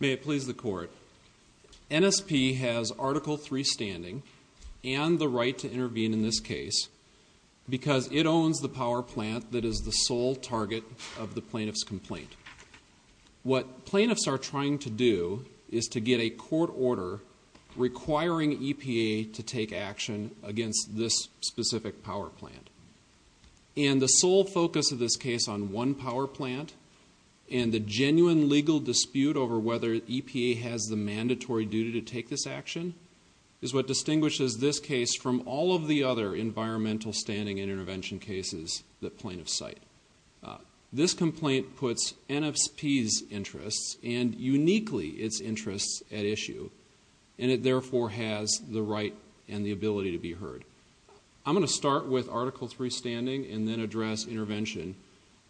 May it please the Court, NSP has Article 3 standing and the right to intervene in this case because it owns the power plant that is the sole target of the plaintiff's complaint. What plaintiffs are trying to do is to get a court order requiring EPA to take action against this specific power plant. And the sole focus of this case on one power plant and the genuine legal dispute over whether EPA has the mandatory duty to take this action is what distinguishes this case from all of the other environmental standing and intervention cases that plaintiffs cite. This complaint puts NSP's interests and uniquely its interests at issue and it therefore has the right and the ability to be heard. I'm going to start with Article 3 standing and then address intervention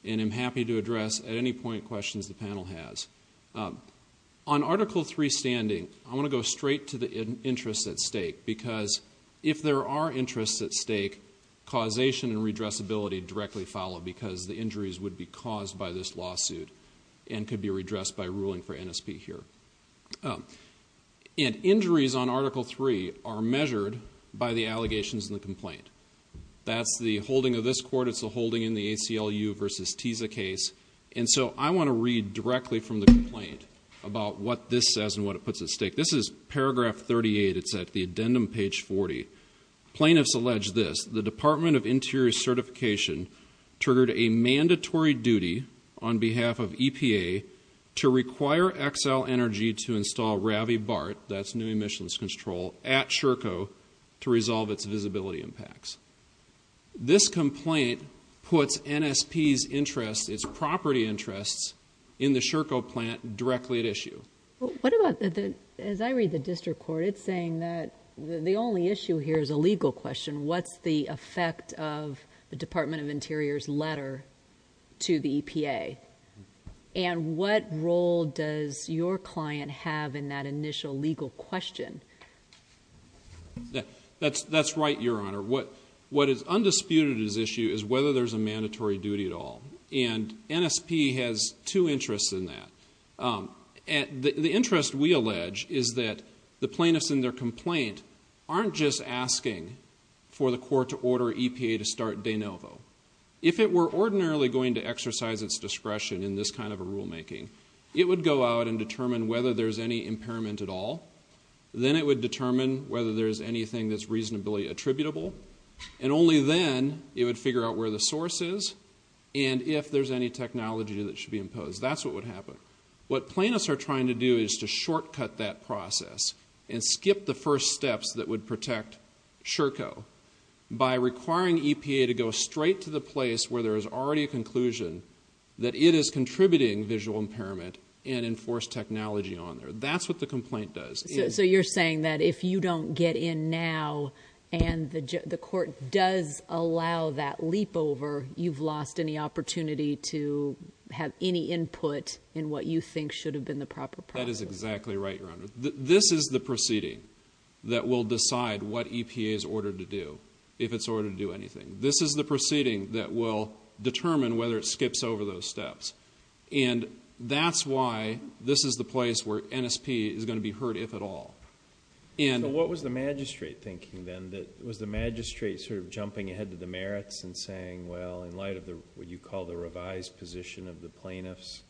and I'm happy to address at any point questions the panel has. On Article 3 standing, I want to go straight to the interests at stake because if there are interests at stake, causation and redressability directly follow because the injuries would be caused by this lawsuit and could be redressed by ruling for NSP here. Injuries on Article 3 are measured by the allegations in the complaint. That's the holding of this court, it's the holding in the ACLU versus TISA case and so I want to read directly from the complaint about what this says and what it puts at stake. This is paragraph 38, it's at the addendum page 40. Plaintiffs allege this, the Department of Interior Certification triggered a mandatory duty on behalf of EPA to require Xcel Energy to install RaviBart, that's new emissions control, at Sherco to resolve its visibility impacts. This complaint puts NSP's interests, its property interests in the Sherco plant directly at issue. What about the, as I read the district court, it's saying that the only issue here is a Department of Interior's letter to the EPA and what role does your client have in that initial legal question? That's right, Your Honor. What is undisputed at this issue is whether there's a mandatory duty at all and NSP has two interests in that. The interest we allege is that the plaintiffs in their complaint aren't just asking for the court to order EPA to start DeNovo. If it were ordinarily going to exercise its discretion in this kind of a rulemaking, it would go out and determine whether there's any impairment at all, then it would determine whether there's anything that's reasonably attributable and only then it would figure out where the source is and if there's any technology that should be imposed. That's what would happen. What the first steps that would protect Sherco by requiring EPA to go straight to the place where there is already a conclusion that it is contributing visual impairment and enforce technology on there. That's what the complaint does. So you're saying that if you don't get in now and the court does allow that leap over, you've lost any opportunity to have any input in what you think should have been the proper process? That is exactly right, Your Honor. This is the proceeding that will decide what EPA is ordered to do, if it's ordered to do anything. This is the proceeding that will determine whether it skips over those steps. And that's why this is the place where NSP is going to be hurt, if at all. So what was the magistrate thinking then? Was the magistrate sort of jumping ahead to the merits and saying, well, in light of what you call the revised position of the plaintiffs,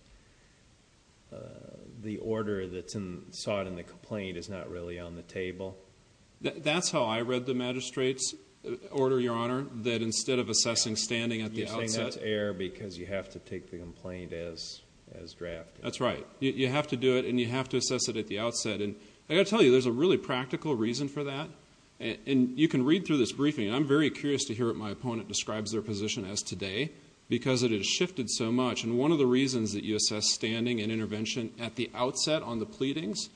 the order that's sought in the complaint is not really on the table? That's how I read the magistrate's order, Your Honor, that instead of assessing standing at the outset... You're saying that's error because you have to take the complaint as drafted. That's right. You have to do it and you have to assess it at the outset. And I've got to tell you, there's a really practical reason for that. And you can read through this briefing, and I'm very curious to hear what my opponent describes their position as today, because it has shifted so much. And one of the reasons that you assess standing and intervention at the outset on the pleadings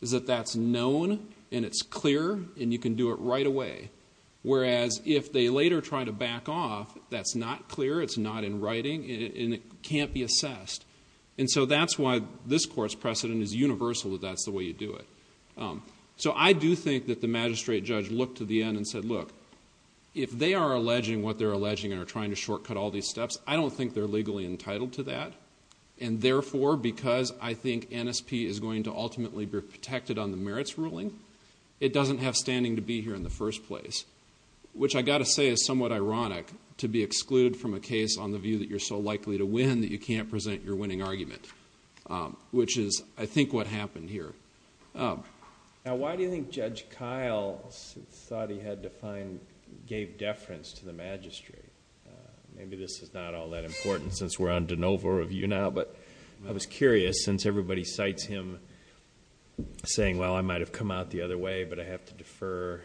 is that that's known and it's clear and you can do it right away. Whereas if they later try to back off, that's not clear, it's not in writing, and it can't be assessed. And so that's why this Court's precedent is universal that that's the way you do it. So I do think that the magistrate judge looked to the end and said, look, if they are alleging what they're alleging and are trying to shortcut all these steps, I don't think they're legally entitled to that. And therefore, because I think NSP is going to ultimately be protected on the merits ruling, it doesn't have standing to be here in the first place, which I've got to say is somewhat ironic to be excluded from a case on the view that you're so likely to win that you can't present your winning argument, which is, I think, what happened here. Now, why do you think Judge Kyle thought he had to find, gave deference to the magistrate? Maybe this is not all that important since we're on de novo review now, but I was curious, since everybody cites him saying, well, I might have come out the other way, but I have to defer.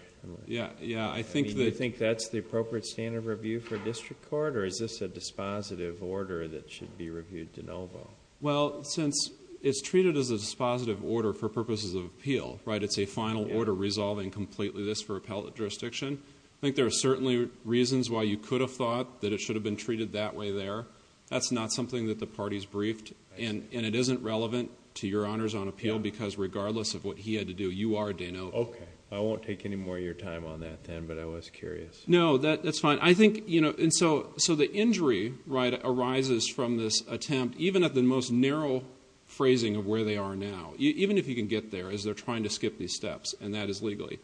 Yeah, yeah, I think that... I mean, do you think that's the appropriate standard of review for a district court or is this a dispositive order that should be reviewed de novo? Well, since it's treated as a dispositive order for purposes of appeal, right? It's a final order resolving completely this for appellate jurisdiction. I think there are certainly reasons why you could have thought that it should have been treated that way there. That's not something that the party's briefed and it isn't relevant to your honors on appeal because regardless of what he had to do, you are de novo. Okay. I won't take any more of your time on that then, but I was curious. No, that's fine. I think, you know, and so the injury arises from this attempt, even at the most narrow phrasing of where they are now, even if you can get there as they're trying to skip these steps, and that is legally.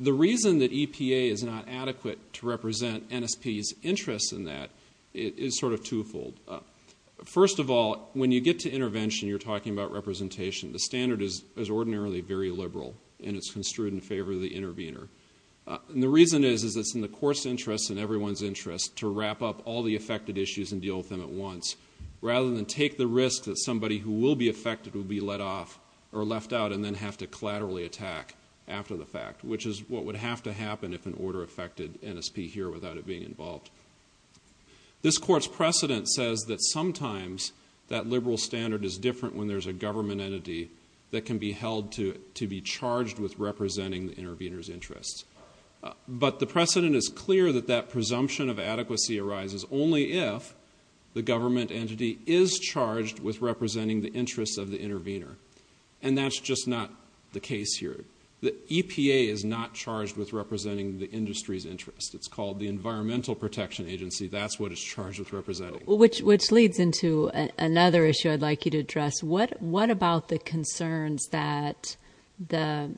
The reason that EPA is not adequate to represent NSP's interest in that is sort of twofold. First of all, when you get to intervention, you're talking about representation. The standard is ordinarily very liberal and it's construed in favor of the intervener. And the reason is, is it's in the court's interest and everyone's interest to wrap up all the affected issues and deal with them at once, rather than take the risk that somebody who will be affected will be let off or left out and then have to collaterally attack after the fact, which is what would have to happen if an order affected NSP here without it being involved. This court's precedent says that sometimes that liberal standard is different when there's a government entity that can be held to be charged with representing the intervener's interests. But the precedent is clear that that presumption of adequacy arises only if the government entity is charged with representing the interests of the intervener. And that's just not the case here. The EPA is not charged with representing the industry's interest. It's called the Environmental Protection Agency. That's what it's charged with representing. Which leads into another issue I'd like you to address. What about the concerns that the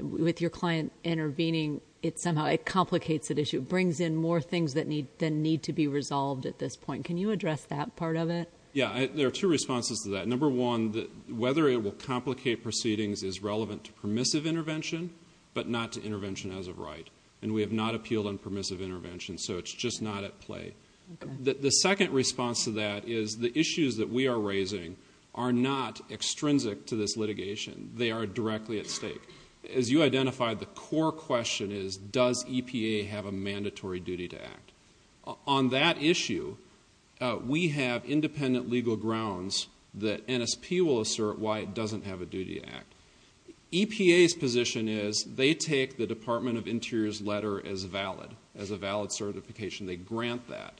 with your client intervening, it somehow, it complicates the issue. It brings in more things that need to be resolved at this point. Can you address that part of it? Yeah. There are two responses to that. Number one, whether it will complicate proceedings is relevant to permissive intervention, but not to intervention as of right. And we have not appealed on permissive intervention, so it's just not at play. The second response to that is the issues that we are raising are not extrinsic to this litigation. They are directly at stake. As you identified, the core question is, does EPA have a mandatory duty to act? On that issue, we have independent legal grounds that NSP will assert why it doesn't have a duty to act. EPA's position is, they take the Department of Interior's letter as valid, as a valid certification. They grant that.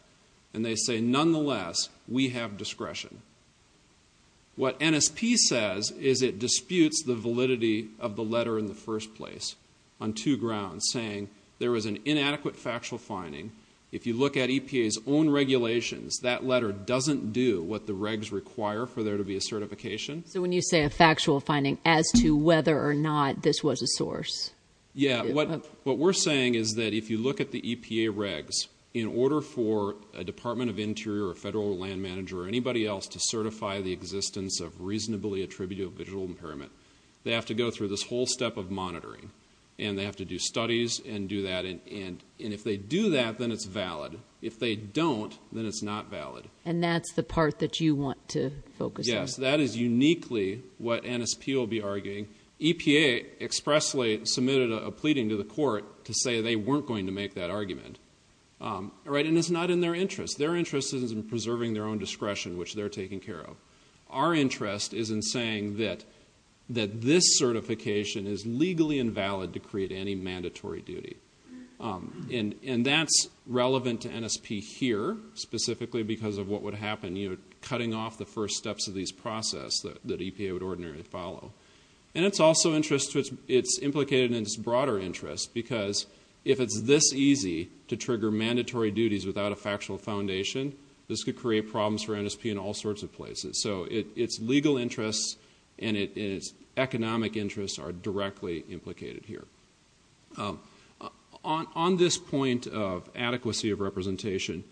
And they say, nonetheless, we have discretion. What NSP says is, it disputes the validity of the letter in the first place, on two grounds, saying there was an inadequate factual finding. If you look at EPA's own regulations, that letter doesn't do what the regs require for there to be a certification. So when you say a factual finding as to whether or not this was a source. Yeah. What we're saying is that if you look at the EPA regs, in order for a Department of Interior or a federal land manager or anybody else to certify the existence of reasonably attributable visual impairment, they have to go through this whole step of monitoring. And they have to do studies and do that. And if they do that, then it's valid. If they don't, then it's not valid. And that's the part that you want to focus on. Yes. That is uniquely what NSP will be arguing. EPA expressly submitted a pleading to the court to say they weren't going to make that Our interest isn't in preserving their own discretion, which they're taking care of. Our interest is in saying that this certification is legally invalid to create any mandatory duty. And that's relevant to NSP here, specifically because of what would happen, you know, cutting off the first steps of this process that EPA would ordinarily follow. And it's also implicated in its broader interest, because if it's this easy to trigger mandatory duties without a factual foundation, this could create problems for NSP in all sorts of places. So its legal interests and its economic interests are directly implicated here. On this point of adequacy of representation,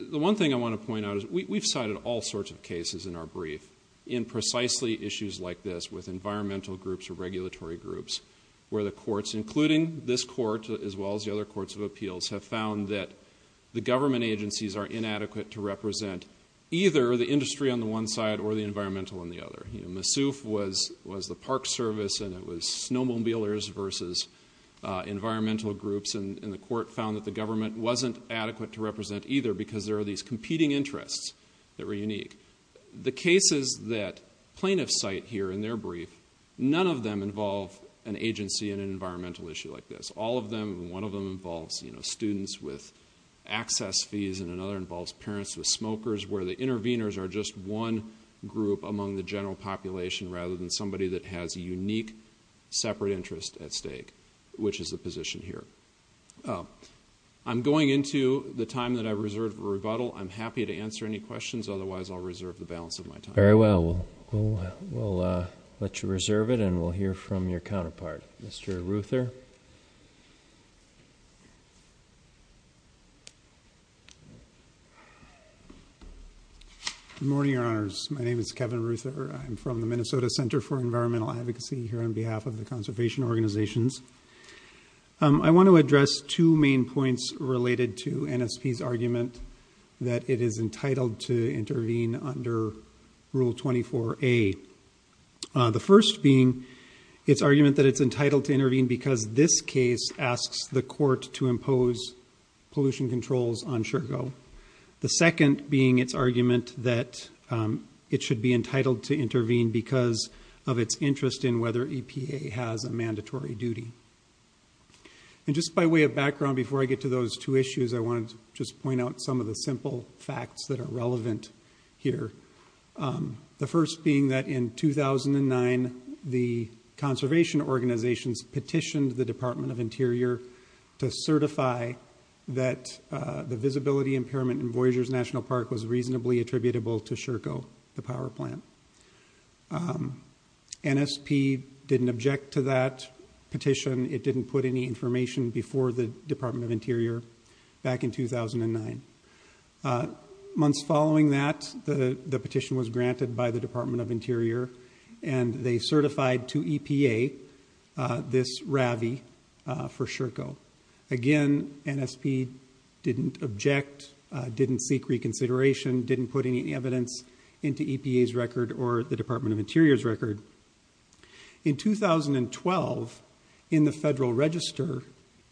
the one thing I want to point out is we've cited all sorts of cases in our brief in precisely issues like this with environmental groups or regulatory groups, where the courts, including this court as well as the other courts of appeals, have found that the government agencies are inadequate to represent either the industry on the one side or the environmental on the other. You know, Massouf was the park service, and it was snowmobilers versus environmental groups, and the court found that the government wasn't adequate to represent either because there were these competing interests that were unique. The cases that plaintiffs cite here in their brief, none of them involve an agency in an issue like this. All of them, and one of them involves students with access fees and another involves parents with smokers, where the interveners are just one group among the general population rather than somebody that has a unique separate interest at stake, which is the position here. I'm going into the time that I've reserved for rebuttal. I'm happy to answer any questions. Otherwise, I'll reserve the balance of my time. Very well. We'll let you reserve it and we'll hear from your counterpart. Mr. Ruther. Good morning, Your Honors. My name is Kevin Ruther. I'm from the Minnesota Center for Environmental Advocacy here on behalf of the conservation organizations. I want to address two main points related to NSP's argument that it is entitled to intervene under Rule 24A. The first being its argument that it's entitled to intervene because this case asks the court to impose pollution controls on Shergo. The second being its argument that it should be entitled to intervene because of its interest in whether EPA has a mandatory duty. Just by way of background before I get to those two issues, I want to just point out some of the simple facts that are relevant here. The first being that in 2009, the conservation organizations petitioned the Department of Interior to certify that the visibility impairment in Voyageurs National Park was reasonably attributable to Shergo, the power plant. NSP didn't object to that petition. It didn't put any information before the Department of Interior back in 2009. Months following that, the petition was granted by the Department of Interior, and they certified to EPA this RAVI for Shergo. Again, NSP didn't object, didn't seek reconsideration, didn't put any evidence into EPA's record or the Department of Interior's record. In 2012, in the Federal Register,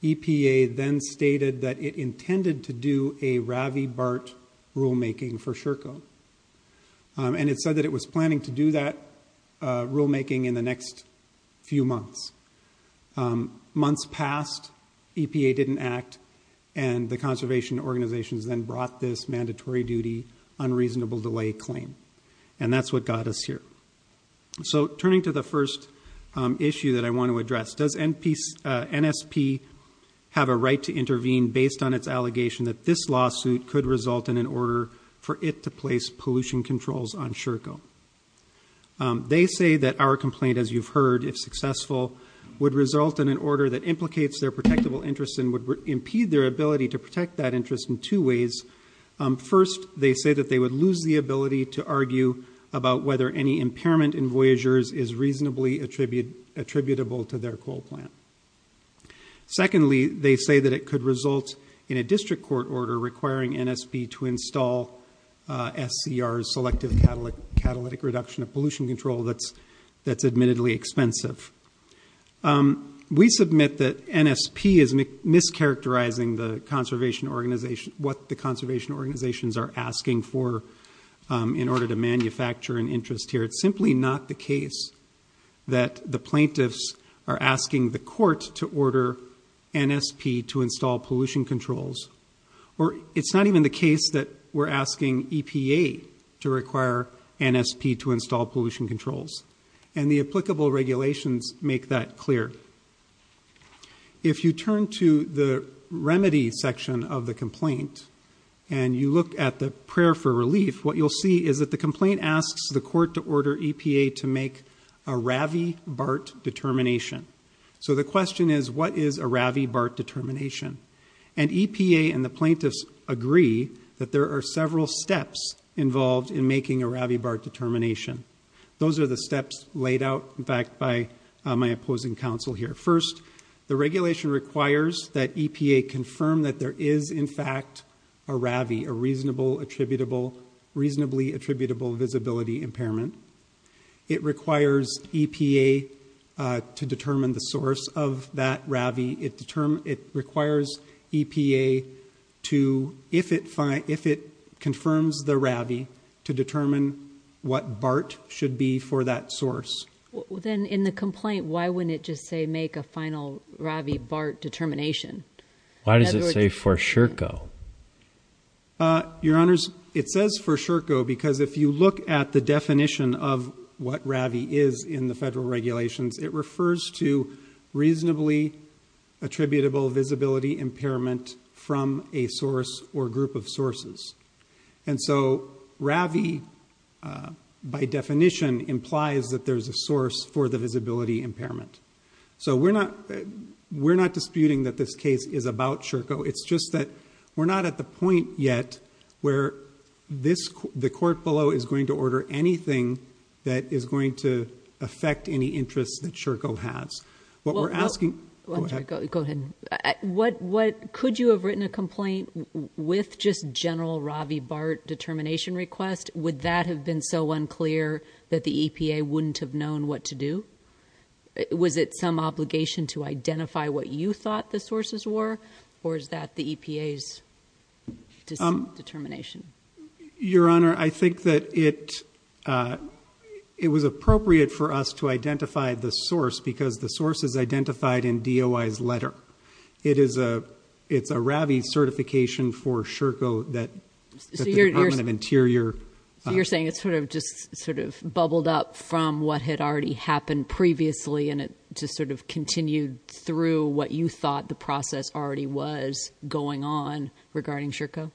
EPA then stated that it intended to do a RAVI BART rulemaking for Shergo, and it said that it was planning to do that rulemaking in the next few months. Months passed, EPA didn't act, and the conservation organizations then brought this mandatory duty, unreasonable delay claim, and that's what got us here. So turning to the first issue that I want to address, does NSP have a right to intervene based on its allegation that this lawsuit could result in an order for it to place pollution controls on Shergo? They say that our complaint, as you've heard, if successful, would result in an order that implicates their protectable interest and would impede their ability to First, they say that they would lose the ability to argue about whether any impairment in Voyagers is reasonably attributable to their coal plant. Secondly, they say that it could result in a district court order requiring NSP to install SCR's selective catalytic reduction of pollution control that's admittedly expensive. We submit that NSP is mischaracterizing the conservation organization, what the conservation organizations are asking for in order to manufacture an interest here. It's simply not the case that the plaintiffs are asking the court to order NSP to install pollution controls, or it's not even the case that we're asking EPA to require NSP to install pollution controls, and the applicable regulations make that clear. If you turn to the remedy section of the complaint and you look at the prayer for relief, what you'll see is that the complaint asks the court to order EPA to make a Ravibart determination. So the question is, what is a Ravibart determination? And EPA and the plaintiffs agree that there are several steps involved in making a Ravibart determination. Those are the steps laid out, in fact, by my opposing counsel here. First, the regulation requires that EPA confirm that there is, in fact, a RAVI, a reasonable attributable, reasonably attributable visibility impairment. It requires EPA to determine the source of that RAVI. It requires EPA to, if it confirms the RAVI, to determine what BART should be for that source. Then in the complaint, why wouldn't it just say, make a final RAVI BART determination? Why does it say for sure go? Your honors, it says for sure go because if you look at the definition of what RAVI is in the federal regulations, it refers to reasonably attributable visibility impairment from a source or group of sources. And so RAVI, by definition, implies that there's a source for the visibility impairment. So we're not disputing that this case is about SHRCO. It's just that we're not at the point yet where the court below is going to order anything that is going to affect any with just general RAVI BART determination request, would that have been so unclear that the EPA wouldn't have known what to do? Was it some obligation to identify what you thought the sources were, or is that the EPA's determination? Your honor, I think that it was appropriate for us to identify the source because the source is identified in DOI's letter. It's a RAVI certification for SHRCO that the Department of Interior- So you're saying it just sort of bubbled up from what had already happened previously and it just sort of continued through what you thought the process already was going on regarding SHRCO?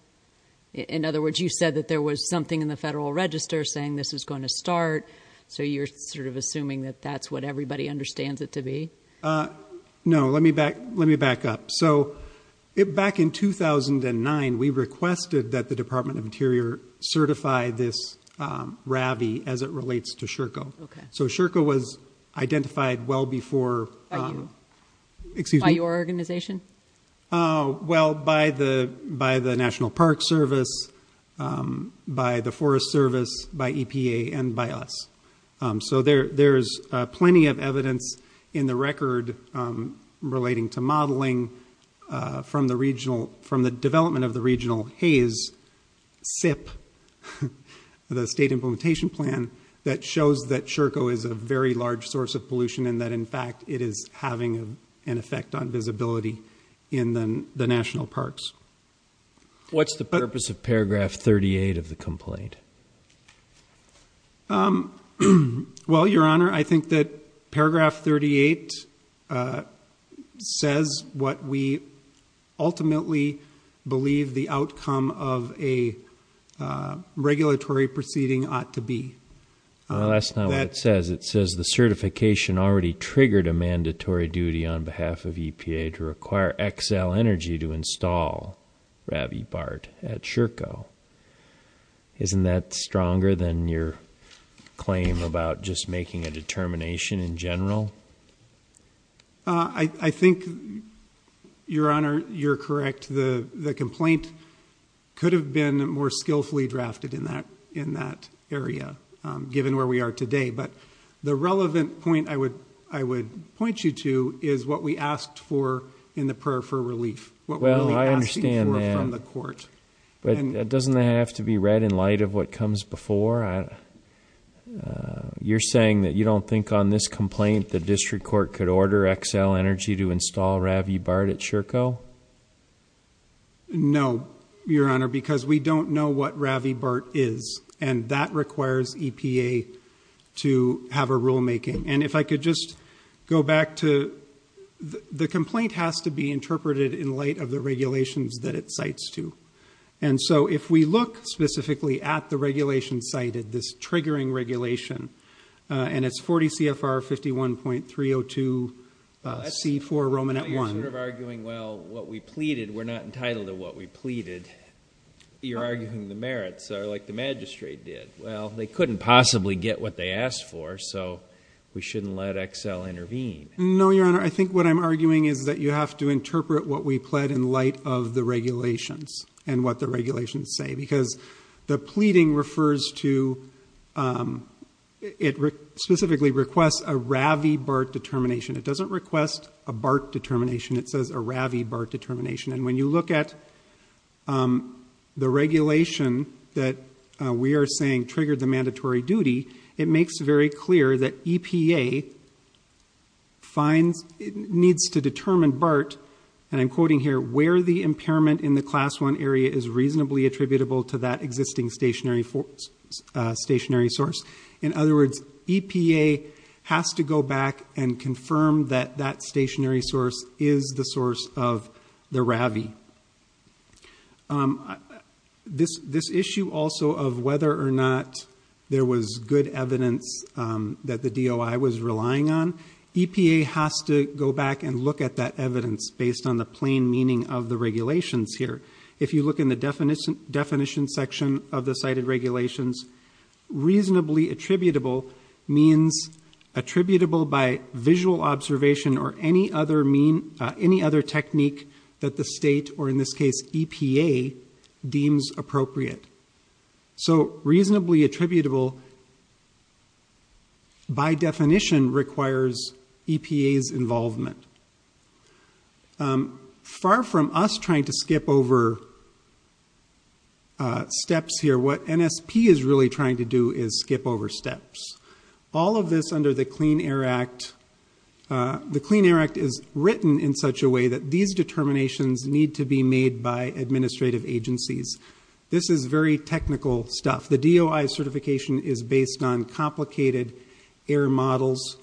In other words, you said that there was something in the federal register saying this is going to start, so you're sort of assuming that that's what everybody understands it to be? No, let me back up. So back in 2009, we requested that the Department of Interior certify this RAVI as it relates to SHRCO. So SHRCO was identified well before- By your organization? Oh, well, by the National Park Service, by the Forest Service, by EPA, and by us. So there's plenty of evidence in the record relating to modeling from the development of the Regional Haze SIP, the State Implementation Plan, that shows that SHRCO is a very large source pollution and that, in fact, it is having an effect on visibility in the national parks. What's the purpose of paragraph 38 of the complaint? Well, Your Honor, I think that paragraph 38 says what we ultimately believe the outcome of a regulatory proceeding ought to be. Well, that's not what it says. It says the certification already triggered a mandatory duty on behalf of EPA to require Xcel Energy to install RAVI BART at SHRCO. Isn't that stronger than your claim about just making a determination in general? I think, Your Honor, you're correct. The complaint could have been more skillfully drafted in that area, given where we are today. But the relevant point I would point you to is what we asked for in the prayer for relief, what we're really asking for from the court. Well, I understand that. But doesn't that have to be read in light of what comes before? You're saying that you don't think on this complaint the District Court could order Xcel Energy to install RAVI BART at SHRCO? No, Your Honor, because we don't know what RAVI BART is. And that requires EPA to have a rulemaking. And if I could just go back to the complaint has to be interpreted in light of the regulations that it cites to. And so if we look specifically at the regulation cited, this triggering regulation, and it's 40 CFR 51.302 C4 Romanet 1. You're sort of arguing, well, what we pleaded, we're not entitled to what we pleaded. You're arguing the merits are like the magistrate did. Well, they couldn't possibly get what they asked for. So we shouldn't let Xcel intervene. No, Your Honor. I think what I'm arguing is that you have to interpret what we pled in light of regulations and what the regulations say. Because the pleading specifically requests a RAVI BART determination. It doesn't request a BART determination. It says a RAVI BART determination. And when you look at the regulation that we are saying triggered the mandatory duty, it makes very clear that EPA needs to determine BART, and I'm quoting here, where the impairment in the class one area is reasonably attributable to that existing stationary source. In other words, EPA has to go back and confirm that that stationary source is the source of the RAVI. This issue also of whether or not there was good evidence that the DOI was relying on, EPA has to go back and look at that evidence based on the plain meaning of the regulations here. If you look in the definition section of the cited regulations, reasonably attributable means attributable by visual observation or any other technique that the state, or in this case EPA, deems appropriate. So reasonably attributable by definition requires EPA's involvement. Far from us trying to skip over steps here, what NSP is really trying to do is skip over steps. All of this under the Clean Air Act, the Clean Air Act is written in such a way that these determinations need to be made by the EPA. And that determination is based on complicated air models,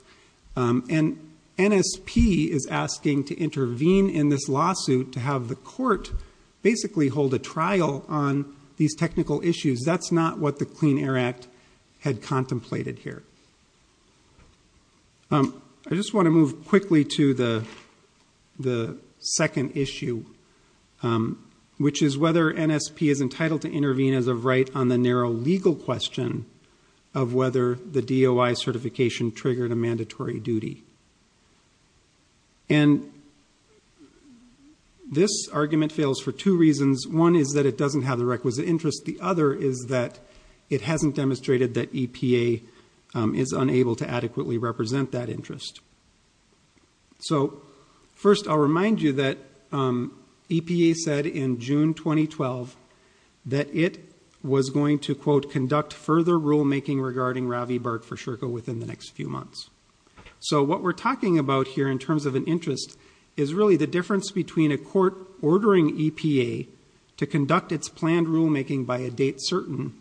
and NSP is asking to intervene in this lawsuit to have the court basically hold a trial on these technical issues. That's not what the Clean Air Act had contemplated here. I just want to move quickly to the second issue, which is whether NSP is entitled to intervene as of right on the narrow legal question of whether the DOI certification triggered a mandatory duty. And this argument fails for two reasons. One is that it doesn't have the requisite interest. The other is that it hasn't demonstrated that EPA is unable to adequately represent that interest. So first I'll remind you that EPA said in June 2012 that it was going to quote further rulemaking regarding Ravi Bhart for SHRCO within the next few months. So what we're talking about here in terms of an interest is really the difference between a court ordering EPA to conduct its planned rulemaking by a date certain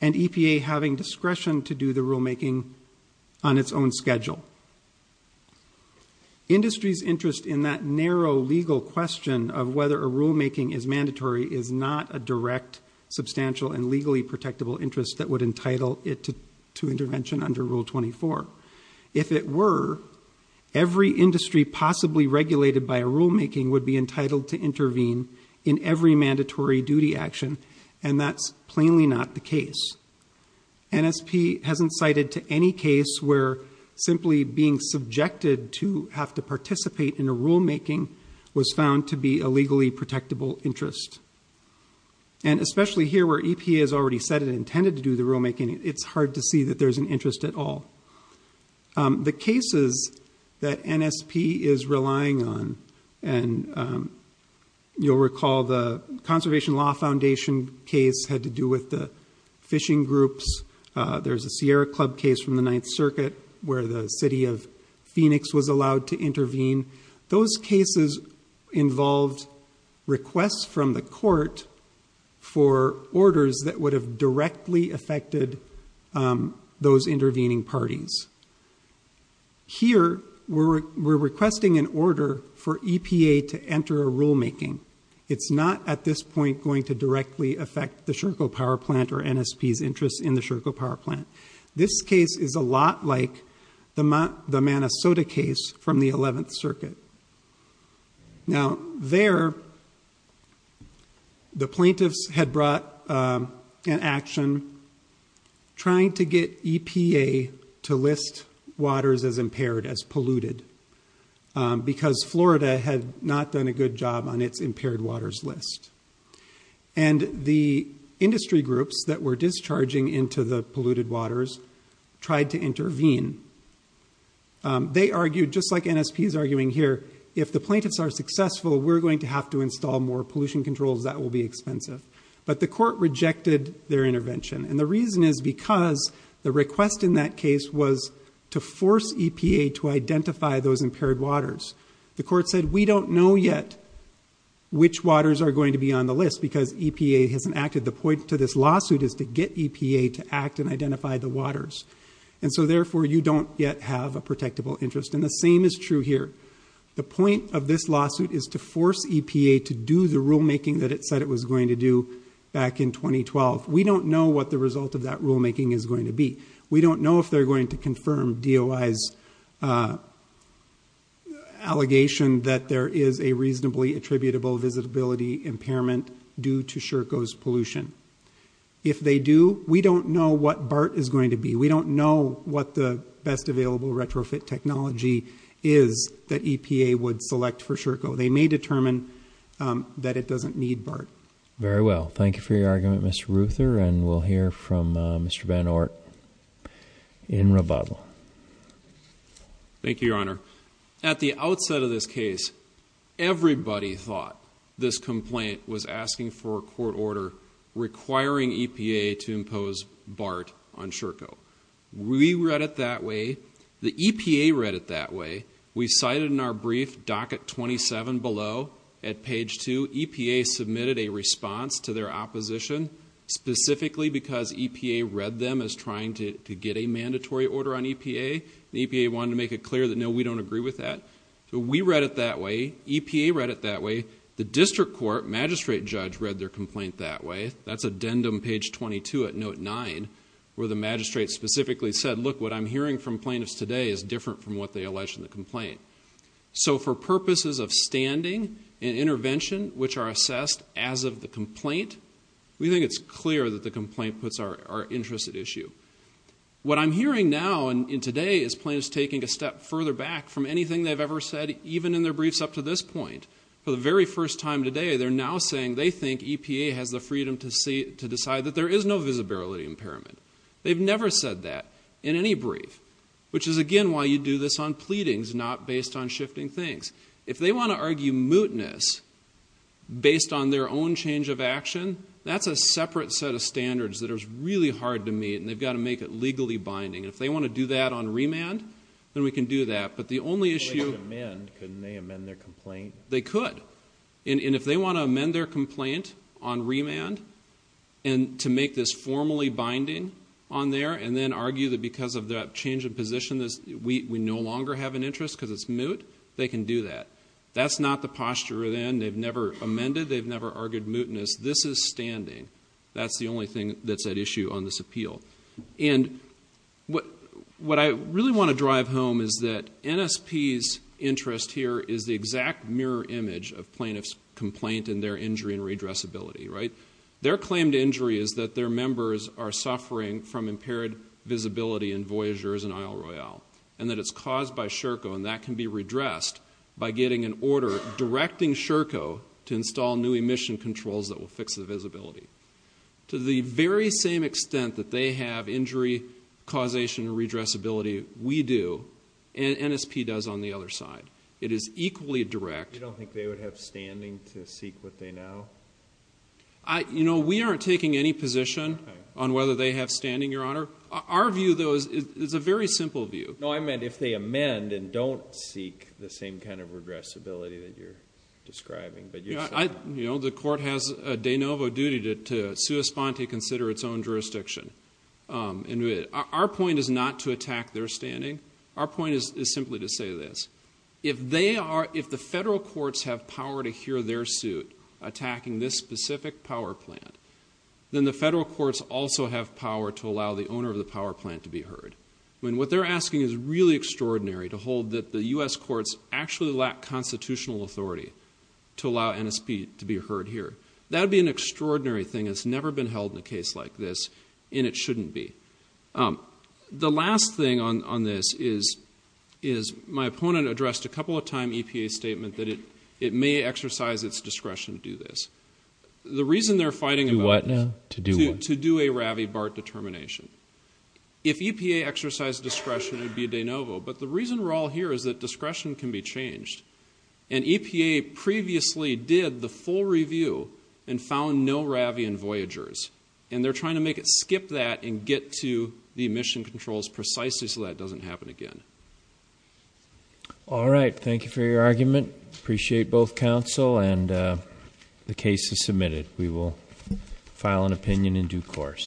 and EPA having discretion to do the rulemaking on its own schedule. Industry's interest in that narrow legal question of whether a rulemaking is mandatory is not a would entitle it to intervention under Rule 24. If it were, every industry possibly regulated by a rulemaking would be entitled to intervene in every mandatory duty action and that's plainly not the case. NSP hasn't cited to any case where simply being subjected to have to participate in a rulemaking was found to be a legally protectable interest. And especially here where EPA has already said it intended to do the rulemaking, it's hard to see that there's an interest at all. The cases that NSP is relying on, and you'll recall the Conservation Law Foundation case had to do with the fishing groups. There's a Sierra Club case from the Ninth Circuit where the city of Phoenix was allowed to intervene. Those cases involved requests from the court for orders that would have directly affected those intervening parties. Here we're requesting an order for EPA to enter a rulemaking. It's not at this point going to directly affect the Sherco power plant or NSP's interest in the Sherco power plant. This case is a lot like the Manasota case from the Ninth Circuit. Here we're requesting an action trying to get EPA to list waters as impaired, as polluted, because Florida had not done a good job on its impaired waters list. And the industry groups that were discharging into the polluted waters tried to intervene. They argued, just like NSP is arguing here, if the plaintiffs are successful, we're going to have to install more their intervention. And the reason is because the request in that case was to force EPA to identify those impaired waters. The court said, we don't know yet which waters are going to be on the list because EPA hasn't acted. The point to this lawsuit is to get EPA to act and identify the waters. And so therefore you don't yet have a protectable interest. And the same is true here. The point of this lawsuit is to force EPA to do the rulemaking that it said it was going to do back in 2012. We don't know what the result of that rulemaking is going to be. We don't know if they're going to confirm DOI's allegation that there is a reasonably attributable visitability impairment due to SHRCO's pollution. If they do, we don't know what BART is going to be. We don't know what the best available retrofit technology is that EPA would select for SHRCO. They may determine that it doesn't need BART. Very well. Thank you for your argument, Mr. Ruther. And we'll hear from Mr. Van Ort in rebuttal. Thank you, Your Honor. At the outset of this case, everybody thought this complaint was asking for a court order requiring EPA to impose BART on SHRCO. We read it that way. The EPA read it that way. We cited in our brief docket 27 below at page 2, EPA submitted a response to their opposition specifically because EPA read them as trying to get a mandatory order on EPA. The EPA wanted to make it clear that no, we don't agree with that. So we read it that way. EPA read it that way. The district court magistrate judge read their complaint that way. That's addendum page 22 at note 9 where the magistrate specifically said, look, what I'm hearing from plaintiffs today is different from what they alleged in the complaint. So for purposes of standing and intervention, which are assessed as of the complaint, we think it's clear that the complaint puts our interest at issue. What I'm hearing now and today is plaintiffs taking a step further back from anything they've ever said, even in their briefs up to this point. For the very first time today, they're now saying they think EPA has the freedom to decide that there is no visibility impairment. They've never said that in any brief, which is, again, why you do this on pleadings, not based on shifting things. If they want to argue mootness based on their own change of action, that's a separate set of standards that is really hard to meet, and they've got to make it legally binding. If they want to do that on remand, then we can do that. But the only issue... Well, they could amend. Couldn't they amend their complaint? They could. And if they want to amend their complaint on remand, and to make this formally binding on there, and then argue that because of that change of position, we no longer have an interest because it's moot, they can do that. That's not the posture then. They've never amended. They've never argued mootness. This is standing. That's the only thing that's at issue on this appeal. And what I really want to drive home is that NSP's interest here is the exact mirror image of plaintiff's complaint and their injury and redressability, right? Their claim to injury is that their members are suffering from impaired visibility in Voyageurs and Isle Royale, and that it's caused by SHRCO, and that can be redressed by getting an order directing SHRCO to install new emission controls that will fix the visibility. To the very same extent that they have injury causation and redressability, we do, and NSP does on the other side. It is equally direct. You don't think they would have standing to seek what they now? You know, we aren't taking any position on whether they have standing, Your Honor. Our view, though, is a very simple view. No, I meant if they amend and don't seek the same kind of redressability that you're describing. You know, the court has a de novo duty to sui sponte, consider its own jurisdiction. And our point is not to attack their standing. Our point is simply to say this. If they are, if the federal courts have power to hear their suit attacking this specific power plant, then the federal courts also have power to allow the owner of the power plant to be heard. When what they're asking is really extraordinary to hold that the U.S. courts actually lack constitutional authority to allow NSP to be heard here. That would be an extraordinary thing. It's never been held in a case like this, and it shouldn't be. The last thing on this is my opponent addressed a couple of time EPA statement that it may exercise its discretion to do this. The reason they're fighting to do a Ravi-Bart determination. If EPA exercised discretion, it would be a de novo. But the reason we're all here is that discretion can be changed. And EPA previously did the full review and found no Ravi and Voyagers. And they're trying to make it skip that and get to the emission controls precisely so that doesn't happen again. All right. Thank you for your argument. Appreciate both counsel and the case is submitted. We will file an opinion in due course.